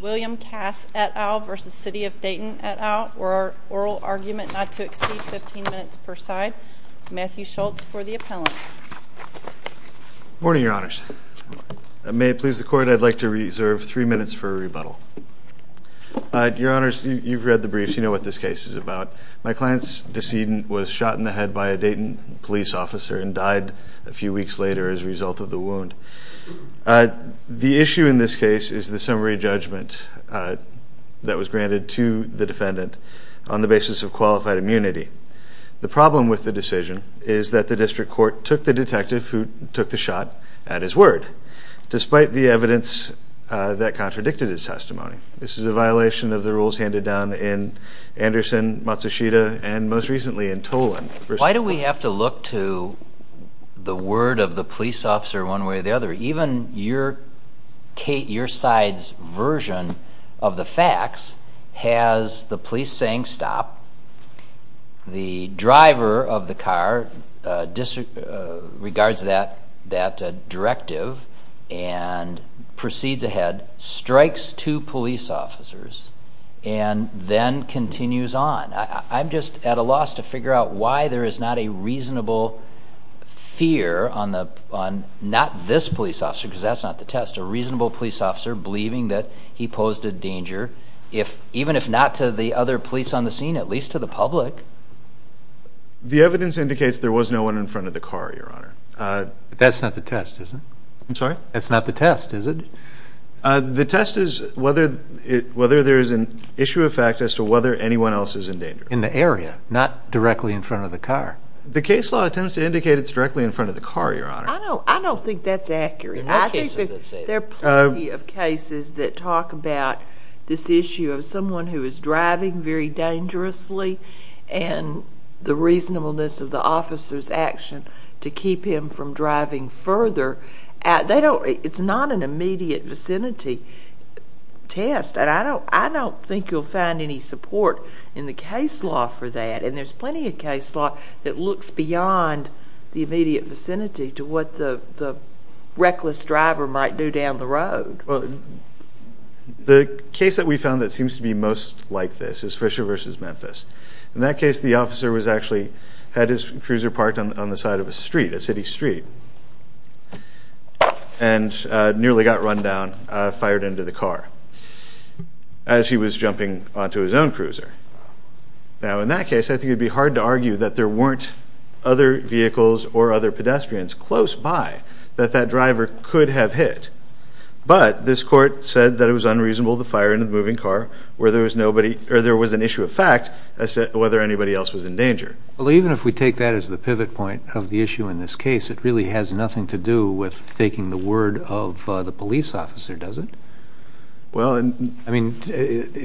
William Cass, et al. v. City of Dayton, et al. Oral Argument Not to Exceed Fifteen Minutes per Side. Matthew Schultz for the Appellant. Morning, Your Honors. May it please the Court, I'd like to reserve three minutes for a rebuttal. Your Honors, you've read the briefs, you know what this case is about. My client's decedent was shot in the head by a Dayton police officer and died a few weeks later as a result of the wound. The issue in this case is the summary judgment that was granted to the defendant on the basis of qualified immunity. The problem with the decision is that the District Court took the detective who took the shot at his word. Despite the evidence that contradicted his testimony. This is a violation of the rules handed down in Anderson, Matsushita, and most recently in Tolan. Why do we have to look to the word of the police officer one way or the other? Even your side's version of the facts has the police saying stop, the and proceeds ahead, strikes two police officers, and then continues on. I'm just at a loss to figure out why there is not a reasonable fear on the, on not this police officer, because that's not the test, a reasonable police officer believing that he posed a danger if, even if not to the other police on the scene, at least to the public. The evidence indicates there was no one in front of the car, your honor. That's not the test, is it? I'm sorry? That's not the test, is it? The test is whether it, whether there is an issue of fact as to whether anyone else is in danger. In the area, not directly in front of the car. The case law tends to indicate it's directly in front of the car, your honor. I don't, I don't think that's accurate. There are plenty of cases that talk about this issue of someone who is driving very dangerously and the reasonableness of the officer's action to keep him from driving further. They don't, it's not an immediate vicinity test, and I don't, I don't think you'll find any support in the case law for that, and there's plenty of case law that looks beyond the immediate vicinity to what the reckless driver might do down the road. Well, the case that we found that seems to be most like this is Fisher v. Memphis. In that case, the officer was actually, had his cruiser parked on the side of a street, a city street, and nearly got run down, fired into the car as he was jumping onto his own cruiser. Now, in that case, I think it'd be hard to argue that there weren't other vehicles or other pedestrians close by that that driver could have hit, but this court said that it was unreasonable to fire into the moving car where there was nobody, or there was an issue of fact as to whether anybody else was in danger. Well, even if we take that as the pivot point of the issue in this case, it really has nothing to do with taking the word of the police officer, does it? Well, I mean,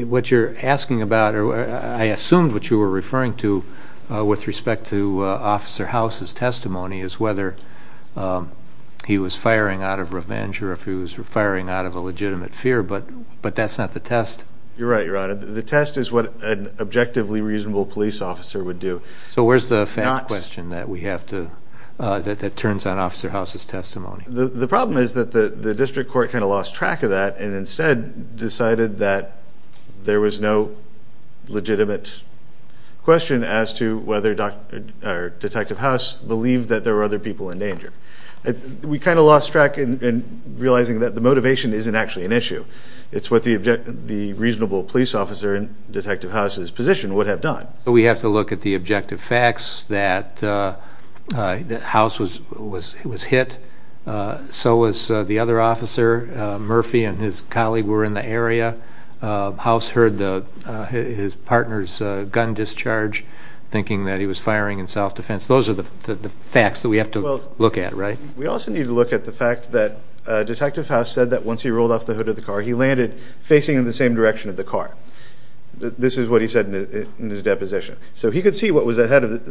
what you're asking about, or I assumed what you were referring to with respect to Officer House's testimony, is whether he was firing out of revenge, or if he was firing out of a legitimate fear, but but that's not the test. You're right, Your Honor. The test is what an objectively reasonable police officer would do. So where's the fact question that we have to, that turns on Officer House's testimony? The problem is that the the district court kind of lost track of that, and instead decided that there was no legitimate question as to whether Detective House believed that there were other people in danger. We kind of lost track in realizing that the motivation isn't actually an issue. It's what the reasonable police officer in Detective House's position would have done. We have to look at the objective facts that House was hit. So was the other officer. Murphy and his colleague were in the area. House heard his partner's gun discharge, thinking that he was firing in self-defense. Those are the facts that we have to look at, right? We also need to look at the fact that Detective House said that once he rolled off the hood of the car, he landed facing in the same direction of the car. This is what he said in his deposition. So he could see what was ahead of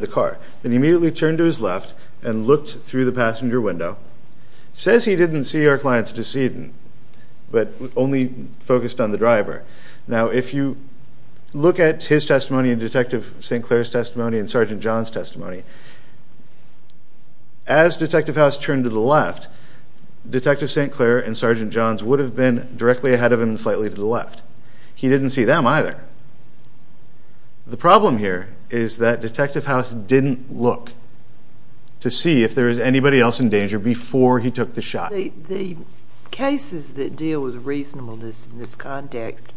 the car. Then he immediately turned to his left and looked through the passenger window. Says he didn't see our client's decedent, but only focused on the driver. Now if you look at his testimony and Detective St. Clair's testimony and Sergeant John's testimony, as Detective House turned to the left, Detective St. Clair and Sergeant John's have been directly ahead of him and slightly to the left. He didn't see them either. The problem here is that Detective House didn't look to see if there is anybody else in danger before he took the shot. The cases that deal with reasonableness in this context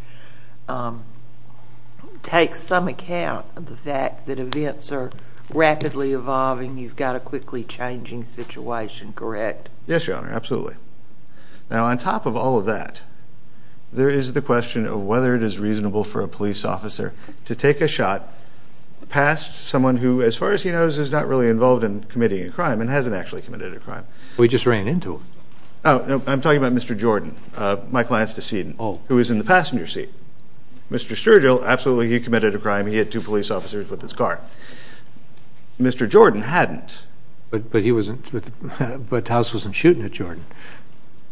take some account of the fact that events are rapidly evolving. You've got a quickly changing situation, correct? Yes, Your Honor. In all of that, there is the question of whether it is reasonable for a police officer to take a shot past someone who, as far as he knows, is not really involved in committing a crime and hasn't actually committed a crime. We just ran into him. Oh, I'm talking about Mr. Jordan, my client's decedent, who is in the passenger seat. Mr. Sturgill, absolutely he committed a crime. He had two police officers with his car. Mr. Jordan hadn't. But House wasn't shooting at Jordan.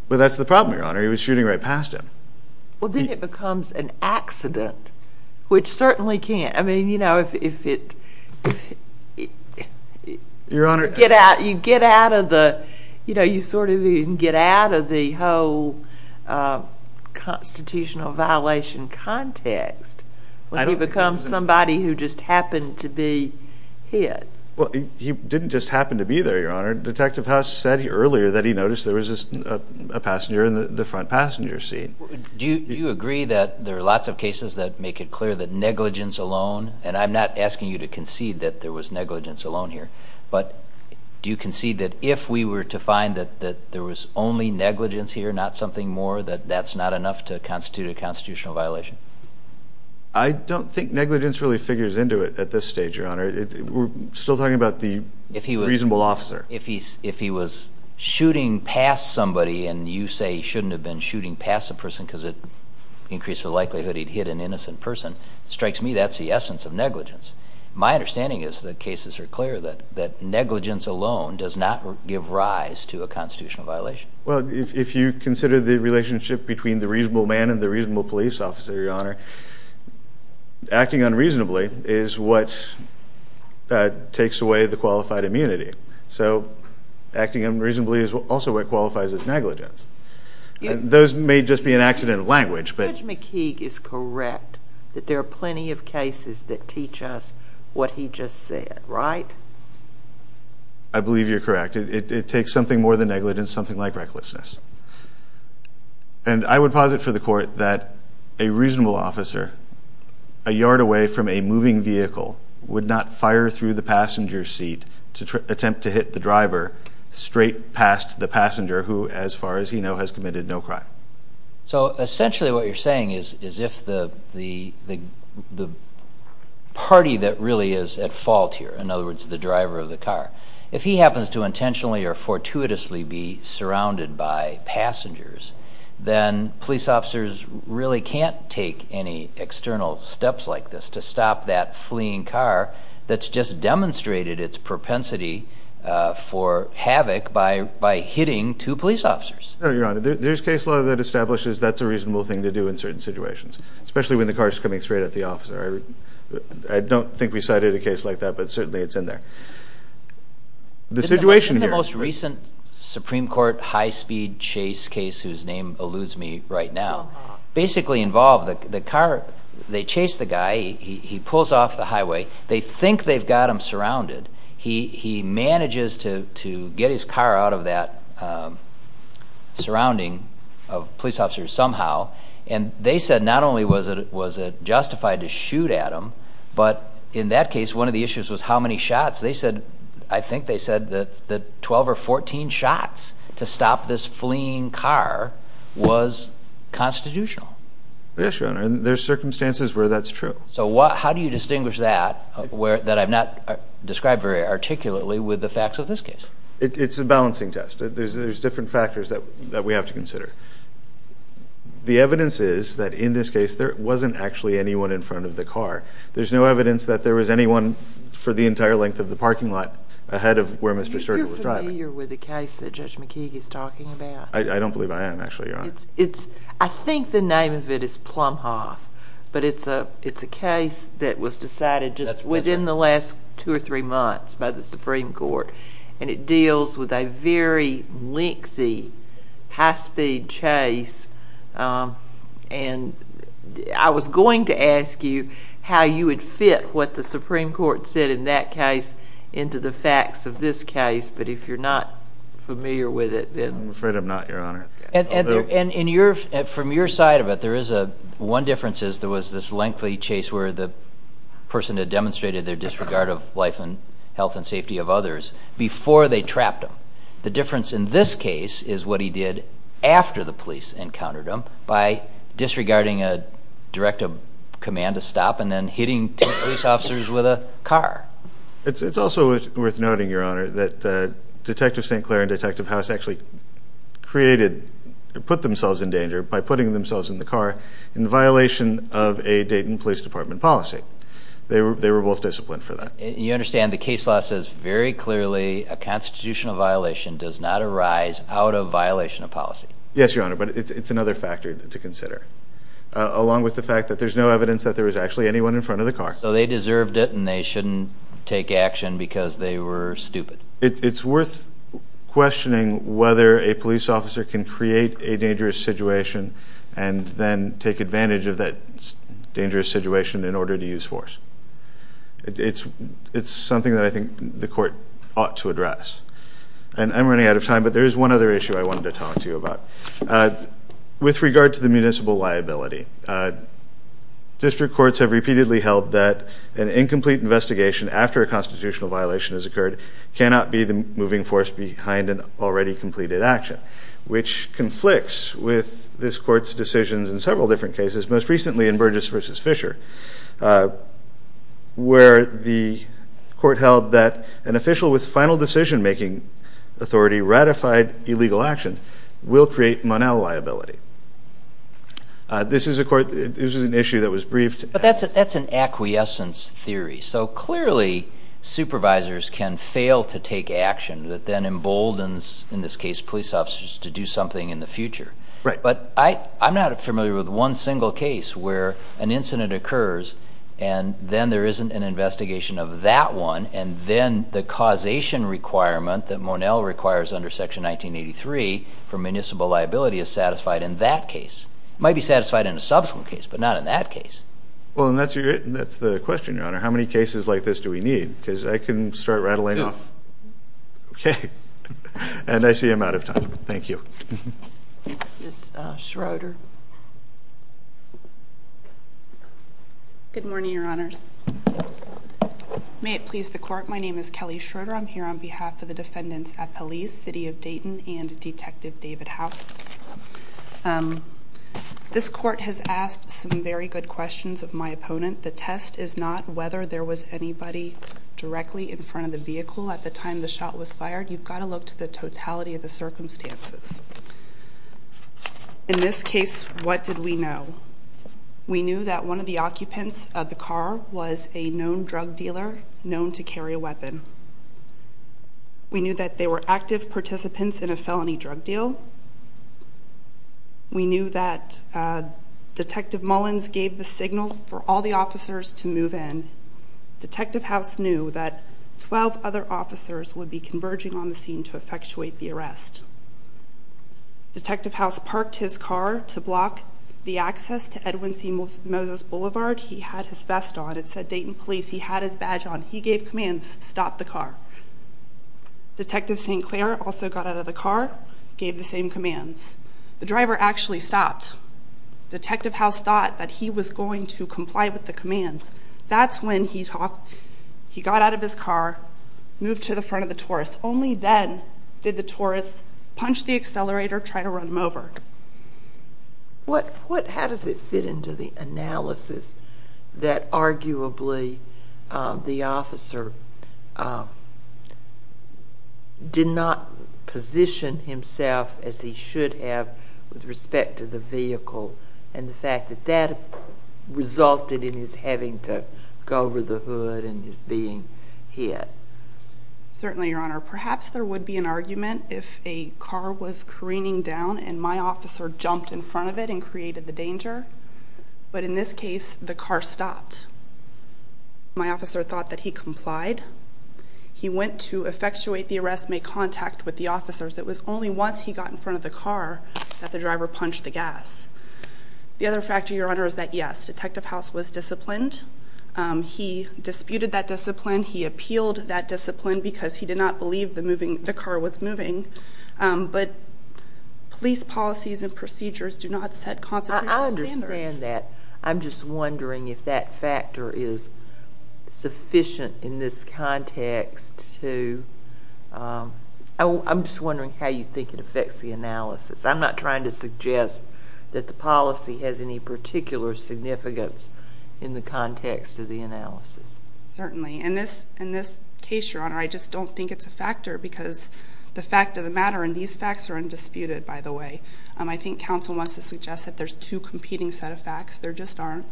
Well, that's the problem, Your Honor. He was shooting right past him. Well, then it becomes an accident, which certainly can't. I mean, you know, if it... Your Honor... You get out of the, you know, you sort of even get out of the whole constitutional violation context when he becomes somebody who just happened to be hit. Well, he didn't just happen to be there, Your Honor. Detective House said earlier that he noticed there was a passenger in the front passenger seat. Do you agree that there are lots of cases that make it clear that negligence alone, and I'm not asking you to concede that there was negligence alone here, but do you concede that if we were to find that there was only negligence here, not something more, that that's not enough to constitute a constitutional violation? I don't think negligence really figures into it at this stage, Your Honor. We're still talking about the reasonable officer. If he was shooting past somebody and you say he shouldn't have been shooting past the person because it increased the likelihood he'd hit an innocent person, it strikes me that's the essence of negligence. My understanding is that cases are clear that negligence alone does not give rise to a constitutional violation. Well, if you consider the relationship between the reasonable man and the reasonable police officer, Your Honor, acting unreasonably is what takes away the qualified immunity. So acting unreasonably is also what qualifies as negligence. Those may just be an accident of language. Judge McKeague is correct that there are plenty of cases that teach us what he just said, right? I believe you're correct. It takes something more than negligence, something like recklessness. And I would posit for the court that a moving vehicle would not fire through the passenger seat to attempt to hit the driver straight past the passenger who, as far as he knows, has committed no crime. So essentially what you're saying is if the party that really is at fault here, in other words the driver of the car, if he happens to intentionally or fortuitously be surrounded by passengers, then police officers really can't take any external steps like this to stop that fleeing car that's just demonstrated its propensity for havoc by hitting two police officers. Your Honor, there's case law that establishes that's a reasonable thing to do in certain situations, especially when the car's coming straight at the officer. I don't think we cited a case like that, but certainly it's in there. The situation here... In the most recent Supreme Court high-speed chase case whose name alludes me right now, basically involved the car, they chase the guy, he pulls off the highway, they think they've got him surrounded. He manages to get his car out of that surrounding of police officers somehow, and they said not only was it justified to shoot at him, but in that case one of the issues was how many shots. They said, I think they said that the 12 or 14 shots to stop this fleeing car was constitutional. Yes, Your Honor, and there's circumstances where that's true. So how do you distinguish that, that I've not described very articulately, with the facts of this case? It's a balancing test. There's different factors that we have to consider. The evidence is that in this case there wasn't actually anyone in front of the car. There's no evidence that there was anyone for the entire length of the parking lot ahead of where Mr. Sturgeon was driving. Are you familiar with the case that Judge McKeague is talking about? I don't believe I am, actually, Your Honor. I think the name of it is Plumhoff, but it's a case that was decided just within the last two or three months by the Supreme Court, and it deals with a very lengthy high-speed chase, and I was going to ask you how you fit what the Supreme Court said in that case into the facts of this case, but if you're not familiar with it, then... I'm afraid I'm not, Your Honor. And from your side of it, there is a one difference is there was this lengthy chase where the person had demonstrated their disregard of life and health and safety of others before they trapped him. The difference in this case is what he did after the police encountered him by disregarding a directive command to stop and then hitting two police officers with a car. It's also worth noting, Your Honor, that Detective St. Clair and Detective House actually created, put themselves in danger by putting themselves in the car in violation of a Dayton Police Department policy. They were both disciplined for that. You understand the case law says very clearly a constitutional violation does not arise out of violation of policy. Yes, Your Honor, but it's another factor to consider, along with the fact that there's no evidence that there was actually anyone in front of the car. So they deserved it and they shouldn't take action because they were stupid. It's worth questioning whether a police officer can create a dangerous situation and then take advantage of that dangerous situation in order to use force. It's something that I think the court ought to address. And I'm running out of time, but there is one other issue I wanted to talk to you about. With regard to the municipal liability, district courts have repeatedly held that an incomplete investigation after a constitutional violation has occurred cannot be the moving force behind an already completed action, which conflicts with this court's decisions in several different cases, most recently in Burgess v. Fisher, where the court held that an official with final decision-making authority ratified illegal actions will create Monell liability. This is a court, this is an issue that was briefed. But that's an acquiescence theory, so clearly supervisors can fail to take action that then emboldens, in this case, police officers to do something in the future. Right. But I I'm not familiar with one single case where an incident occurs and then there isn't an investigation of that one, and then the causation requirement that Monell requires under Section 1983 for municipal liability is satisfied in that case. It might be satisfied in a subsequent case, but not in that case. Well, and that's your, that's the question, Your Honor. How many cases like this do we need? Because I can start rattling off. Okay. And I see I'm out of time. Thank you. Ms. Schroeder. Good morning, Your Honors. May it please the court, my name is Kelly Schroeder. I'm here on behalf of the defendants at police, City of Dayton, and Detective David House. This court has asked some very good questions of my opponent. The test is not whether there was anybody directly in front of the vehicle at the time the shot was fired. You've got to look to the totality of the case. What did we know? We knew that one of the occupants of the car was a known drug dealer known to carry a weapon. We knew that they were active participants in a felony drug deal. We knew that Detective Mullins gave the signal for all the officers to move in. Detective House knew that 12 other officers would be converging on the scene to effectuate the arrest. Detective House parked his car to block the access to Edwin C. Moses Boulevard. He had his vest on. It said Dayton Police. He had his badge on. He gave commands. Stop the car. Detective Sinclair also got out of the car, gave the same commands. The driver actually stopped. Detective House thought that he was going to comply with the commands. That's when he talked. He got out of his car, moved to the front of the Taurus. Only then did the Taurus punch the accelerator, try to run him over. How does it fit into the analysis that arguably the officer did not position himself as he should have with respect to the vehicle and the fact that that resulted in his having to go over the hood and his being hit? Certainly, Your Honor. Perhaps there would be an argument if a car was careening down and my officer jumped in front of it and created the danger. But in this case, the car stopped. My officer thought that he complied. He went to effectuate the arrest, made contact with the officers. It was only once he got in front of the car that the driver punched the gas. The other factor, Your Honor, is that yes, Detective House was disciplined. He disputed that discipline. He appealed that discipline because he did not believe the moving the car was moving. But police policies and procedures do not set constitutional standards. I understand that. I'm just wondering if that factor is sufficient in this context to, I'm just wondering how you think it affects the analysis. I'm not trying to in the context of the analysis. Certainly. In this case, Your Honor, I just don't think it's a factor because the fact of the matter and these facts are undisputed, by the way. I think counsel wants to suggest that there's two competing set of facts. There just aren't.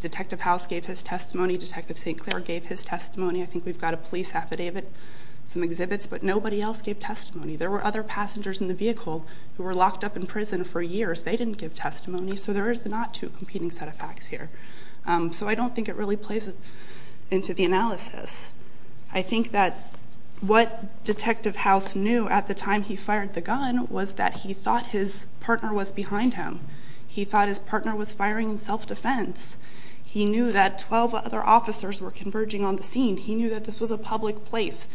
Detective House gave his testimony. Detective St. Clair gave his testimony. I think we've got a police affidavit, some exhibits, but nobody else gave testimony. There were other passengers in the vehicle who were locked up in prison for years. They didn't give testimony. So there is not two competing set of facts here. So I don't think it really plays into the analysis. I think that what Detective House knew at the time he fired the gun was that he thought his partner was behind him. He thought his partner was firing in self defense. He knew that 12 other officers were converging on the scene. He knew that this was a public place.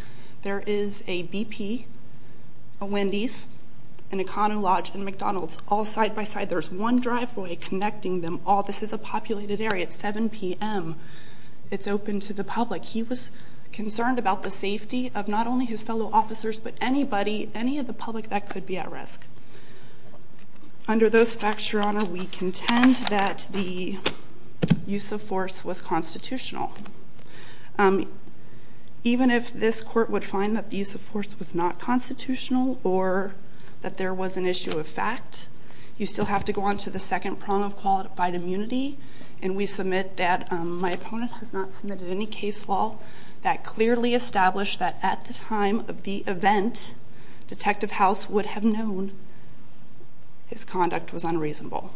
There is a BP, a Wendy's, an economy lodge and McDonald's all side by side. There's one driveway connecting them all. This is a populated area at 7 p.m. It's open to the public. He was concerned about the safety of not only his fellow officers, but anybody, any of the public that could be at risk. Under those facts, your honor, we contend that the use of force was constitutional. Um, even if this court would find that the use of force was not constitutional or that there was an issue of fact, you still have to go on to the second prong of qualified immunity. And we submit that my opponent has not submitted any case law that clearly established that at the time of the event, Detective House would have known his conduct was unreasonable.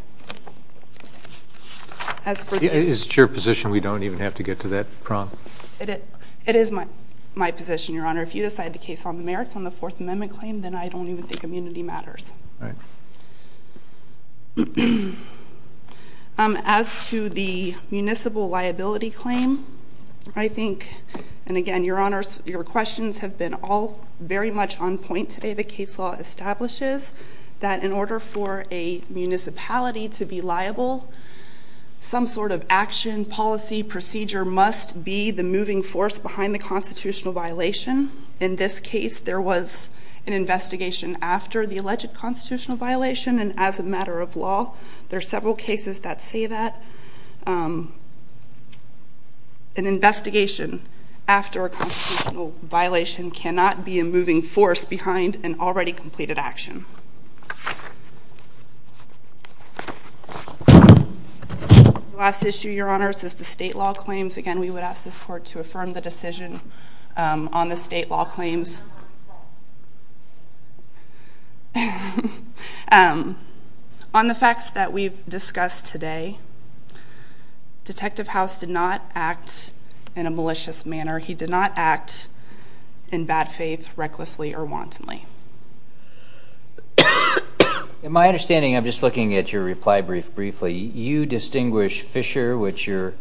As is your position, we don't even have to get to that prompt. It is my my position, your honor. If you decide the case on the merits on the Fourth Amendment claim, then I don't even think immunity matters. As to the municipal liability claim, I think and again, your honors, your questions have been all very much on point today. The case law establishes that in order for a municipality to be liable, some sort of action policy procedure must be the moving force behind the constitutional violation. In this case, there was an investigation after the alleged constitutional violation. And as a matter of law, there are several cases that say that, um, an investigation after a constitutional violation cannot be a moving force behind an already completed action. Okay. Last issue, your honors, is the state law claims. Again, we would ask this court to affirm the decision on the state law claims. Um, on the facts that we've discussed today, Detective House did not act in a malicious manner. He did not act in bad faith, recklessly or wantonly. In my understanding, I'm just looking at your reply brief briefly. You distinguish Fisher, which your,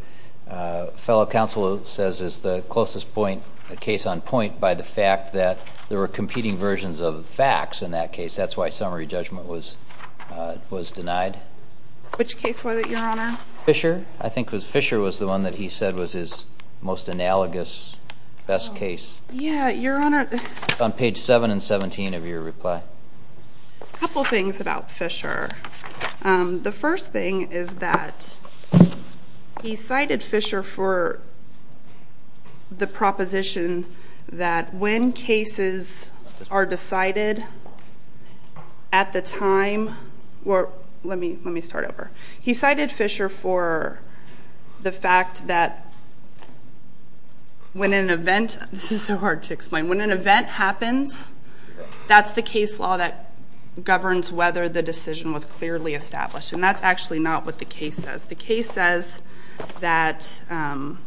uh, fellow counsel says is the closest point case on point by the fact that there were competing versions of facts in that case. That's why summary judgment was was denied. Which case was it? Your honor? Fisher. I think it was Fisher was the one that he said was his most analogous best case. Yeah, your honor. On page seven and 17 of your reply. A couple things about Fisher. Um, the first thing is that he cited Fisher for the proposition that when cases are decided at the time, well, let me let me start over. He cited Fisher for the fact that when an event this is so hard to explain when an event happens, that's the case law that governs whether the decision was clearly established. And that's actually not what the case says. The case says that, um,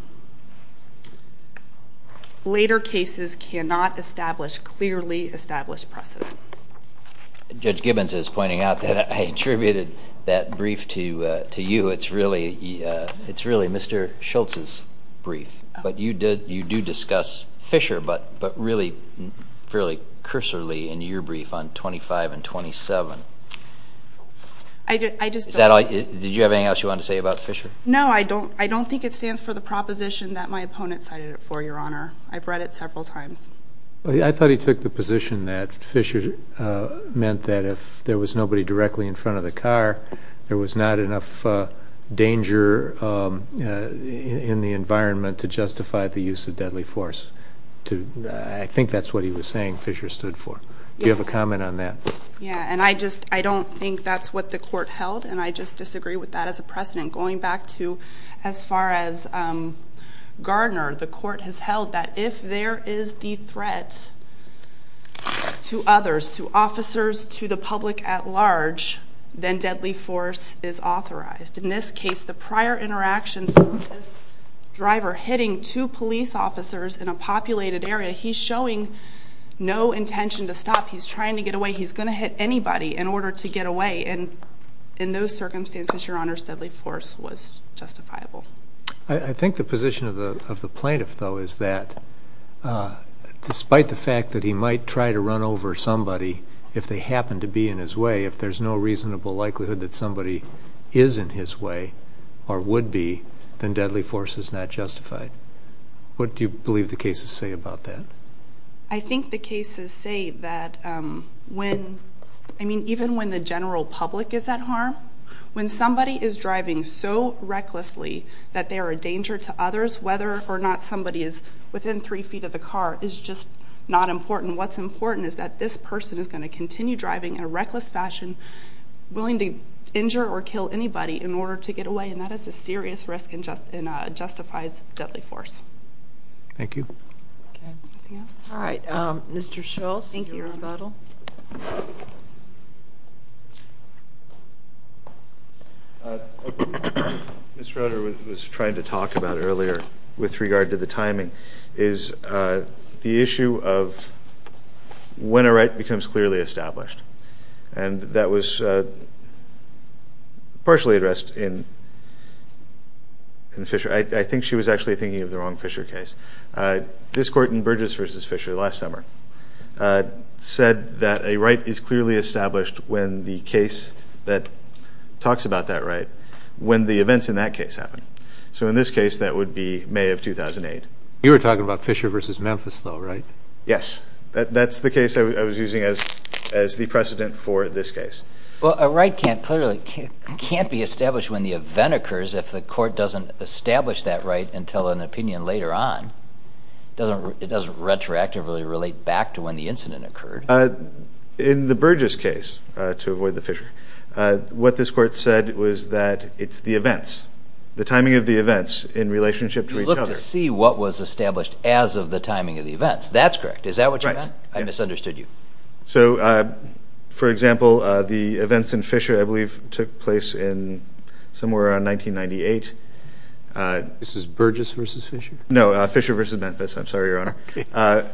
later cases cannot establish clearly established precedent. Judge Gibbons is pointing out that I attributed that brief to to you. It's really it's really Mr Schultz's brief. But you did. You do discuss Fisher, but but really, fairly cursorly in your brief on 25 and 27. I just did you have anything else you want to say about Fisher? No, I don't. I don't think it stands for the proposition that my opponent cited it for your honor. I've read it several times. I thought he took the position that Fisher meant that if there was nobody directly in front of the car, there was not enough danger in the environment to justify the use of deadly force. I think that's what he was saying Fisher stood for. Do you have a comment on that? Yeah. And I just I don't think that's what the court held. And I just disagree with that as a precedent. Going back to as far as Gardner, the court has held that if there is the threat to others, to officers, to the public at large, then deadly force is authorized. In this case, the prior interactions driver hitting two police officers in a populated area. He's showing no intention to stop. He's trying to get away. He's gonna hit anybody in order to get away. And in those circumstances, your honor's deadly force was justifiable. I think the position of the plaintiff though is that despite the fact that he might try to run over somebody if they happen to be in his way, if there's no reasonable likelihood that somebody is in his way or would be, then deadly force is not justified. What do you believe the cases say about that? I think the cases say that when... Even when the general public is at harm, when somebody is driving so recklessly that they are a danger to others, whether or not somebody is within three feet of the car is just not important. What's important is that this person is gonna continue driving in a reckless fashion, willing to injure or kill anybody in order to get away, and that is a serious risk and justifies deadly force. Thank you. Okay. Anything else? All right. Mr. Schultz. Thank you, Your Honor. One of the things that we talked about earlier with regard to the timing is the issue of when a right becomes clearly established. And that was partially addressed in Fisher. I think she was actually thinking of the wrong Fisher case. This court in Burgess v. Fisher last summer said that a right is clearly established when the case that talks about that right, when the events in that case happen. So in this case, that would be May of 2008. You were talking about Fisher v. Memphis though, right? Yes. That's the case I was using as the precedent for this case. Well, a right can't clearly... Can't be established when the event occurs if the court doesn't establish that right until an opinion later on. It doesn't retroactively relate back to when the incident occurred. In the Burgess case, to avoid the Fisher, what this court said was that it's the events, the timing of the events in relationship to each other. You look to see what was established as of the timing of the events. That's correct. Is that what you meant? Right. I misunderstood you. For example, the events in Fisher, I believe, took place in somewhere around 1998. This is Burgess v. Fisher? No, Fisher v. Memphis. I'm sorry, Your Honor. Okay.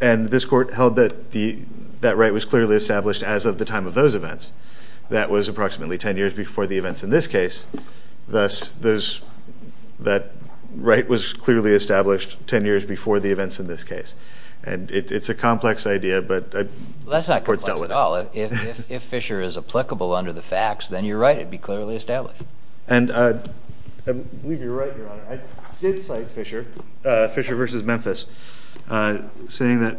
And this court held that that right was clearly established as of the time of those events. That was approximately 10 years before the events in this case. Thus, that right was clearly established 10 years before the events in this case. And it's a complex idea, but... That's not complex at all. If Fisher is applicable under the facts, then you're right. It'd be clearly established. And I believe you're right, Your Honor. I did cite Fisher, Fisher v. Memphis, saying that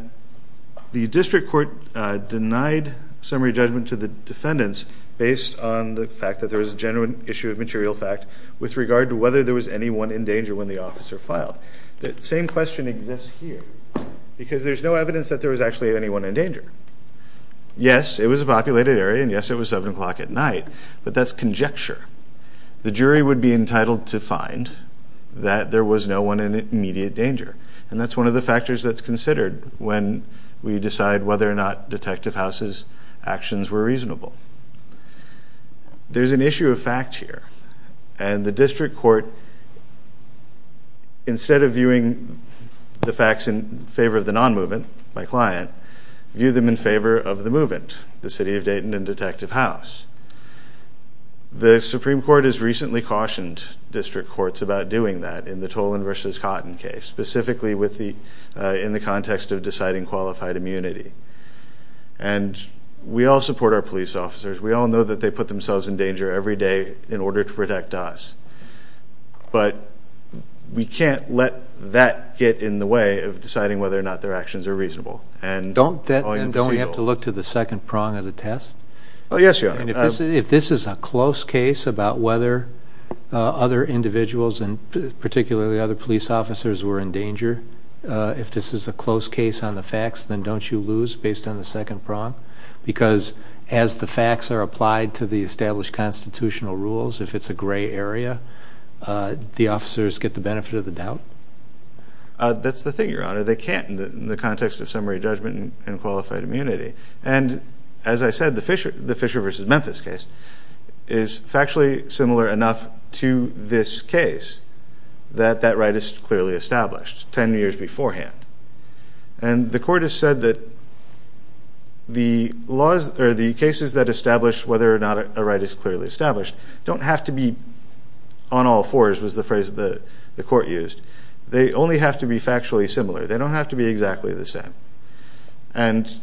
the district court denied summary judgment to the defendants based on the fact that there was a genuine issue of material fact with regard to whether there was anyone in danger when the officer filed. That same question exists here, because there's no evidence that there was actually anyone in danger. Yes, it was a populated area, and yes, it was 7 o'clock at night, but that's conjecture. The jury would be entitled to find that there was no one in immediate danger. And that's one of the factors that's considered when we decide whether or not Detective House's actions were reasonable. There's an issue of fact here, and the district court, instead of viewing the facts in favor of the non movement, my client, view them in favor of the movement, the City of Dayton and Detective House. The Supreme Court has recently cautioned district courts about doing that in the Toland v. Cotton case, specifically in the context of deciding qualified immunity. And we all support our police officers. We all know that they put themselves in danger every day in order to protect us, but we can't let that get in the way of deciding whether or not their actions are reasonable. And don't we have to look to the second prong of the test? Oh, yes, you are. And if this is a close case about whether other individuals and particularly other police officers were in danger, if this is a close case on the facts, then don't you lose based on the second prong? Because as the facts are applied to the established constitutional rules, if it's a gray area, the officers get the benefit of the doubt? That's the thing, Your Honor. They can't in the context of summary judgment and qualified immunity. And as I said, the Fisher v. Memphis case is factually similar enough to this case that that right is clearly established 10 years beforehand. And the court has said that the cases that establish whether or not a right is clearly established don't have to be on all fours, was the phrase that the court used. They only have to be factually similar. They don't have to be exactly the same. And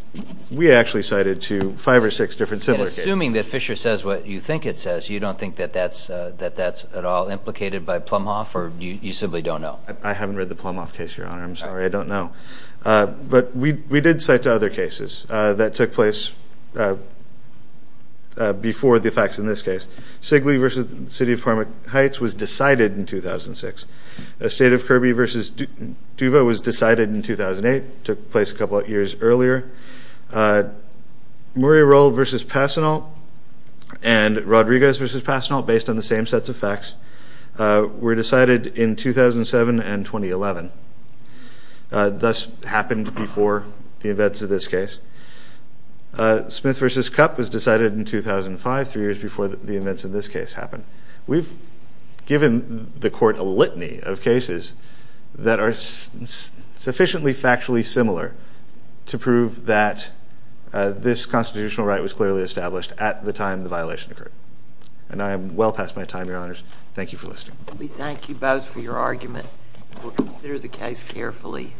we actually cited two, five or six different similar cases. And assuming that Fisher says what you think it says, you don't think that that's at all implicated by Plumhoff, or you simply don't know? I haven't read the Plumhoff case, Your Honor. I'm sorry, I don't know. But we did cite two other cases that took place before the facts in this case. Sigley v. City of Parma Heights was decided in 2006. The State of Kirby v. Duva was decided in 2008, took place a couple of years earlier. Murray Roll v. Passenault and Rodriguez v. Passenault, based on the same sets of facts, were decided in 2007 and 2011. Thus, happened before the events of this case. Smith v. Kupp was decided in 2005, three years before the events of this case happened. We've given the court a litany of cases that are sufficiently factually similar to prove that this constitutional right was clearly established at the time the violation occurred. And I am well past my time, Your Honors. Thank you for listening. We thank you both for your argument. We'll consider the case carefully.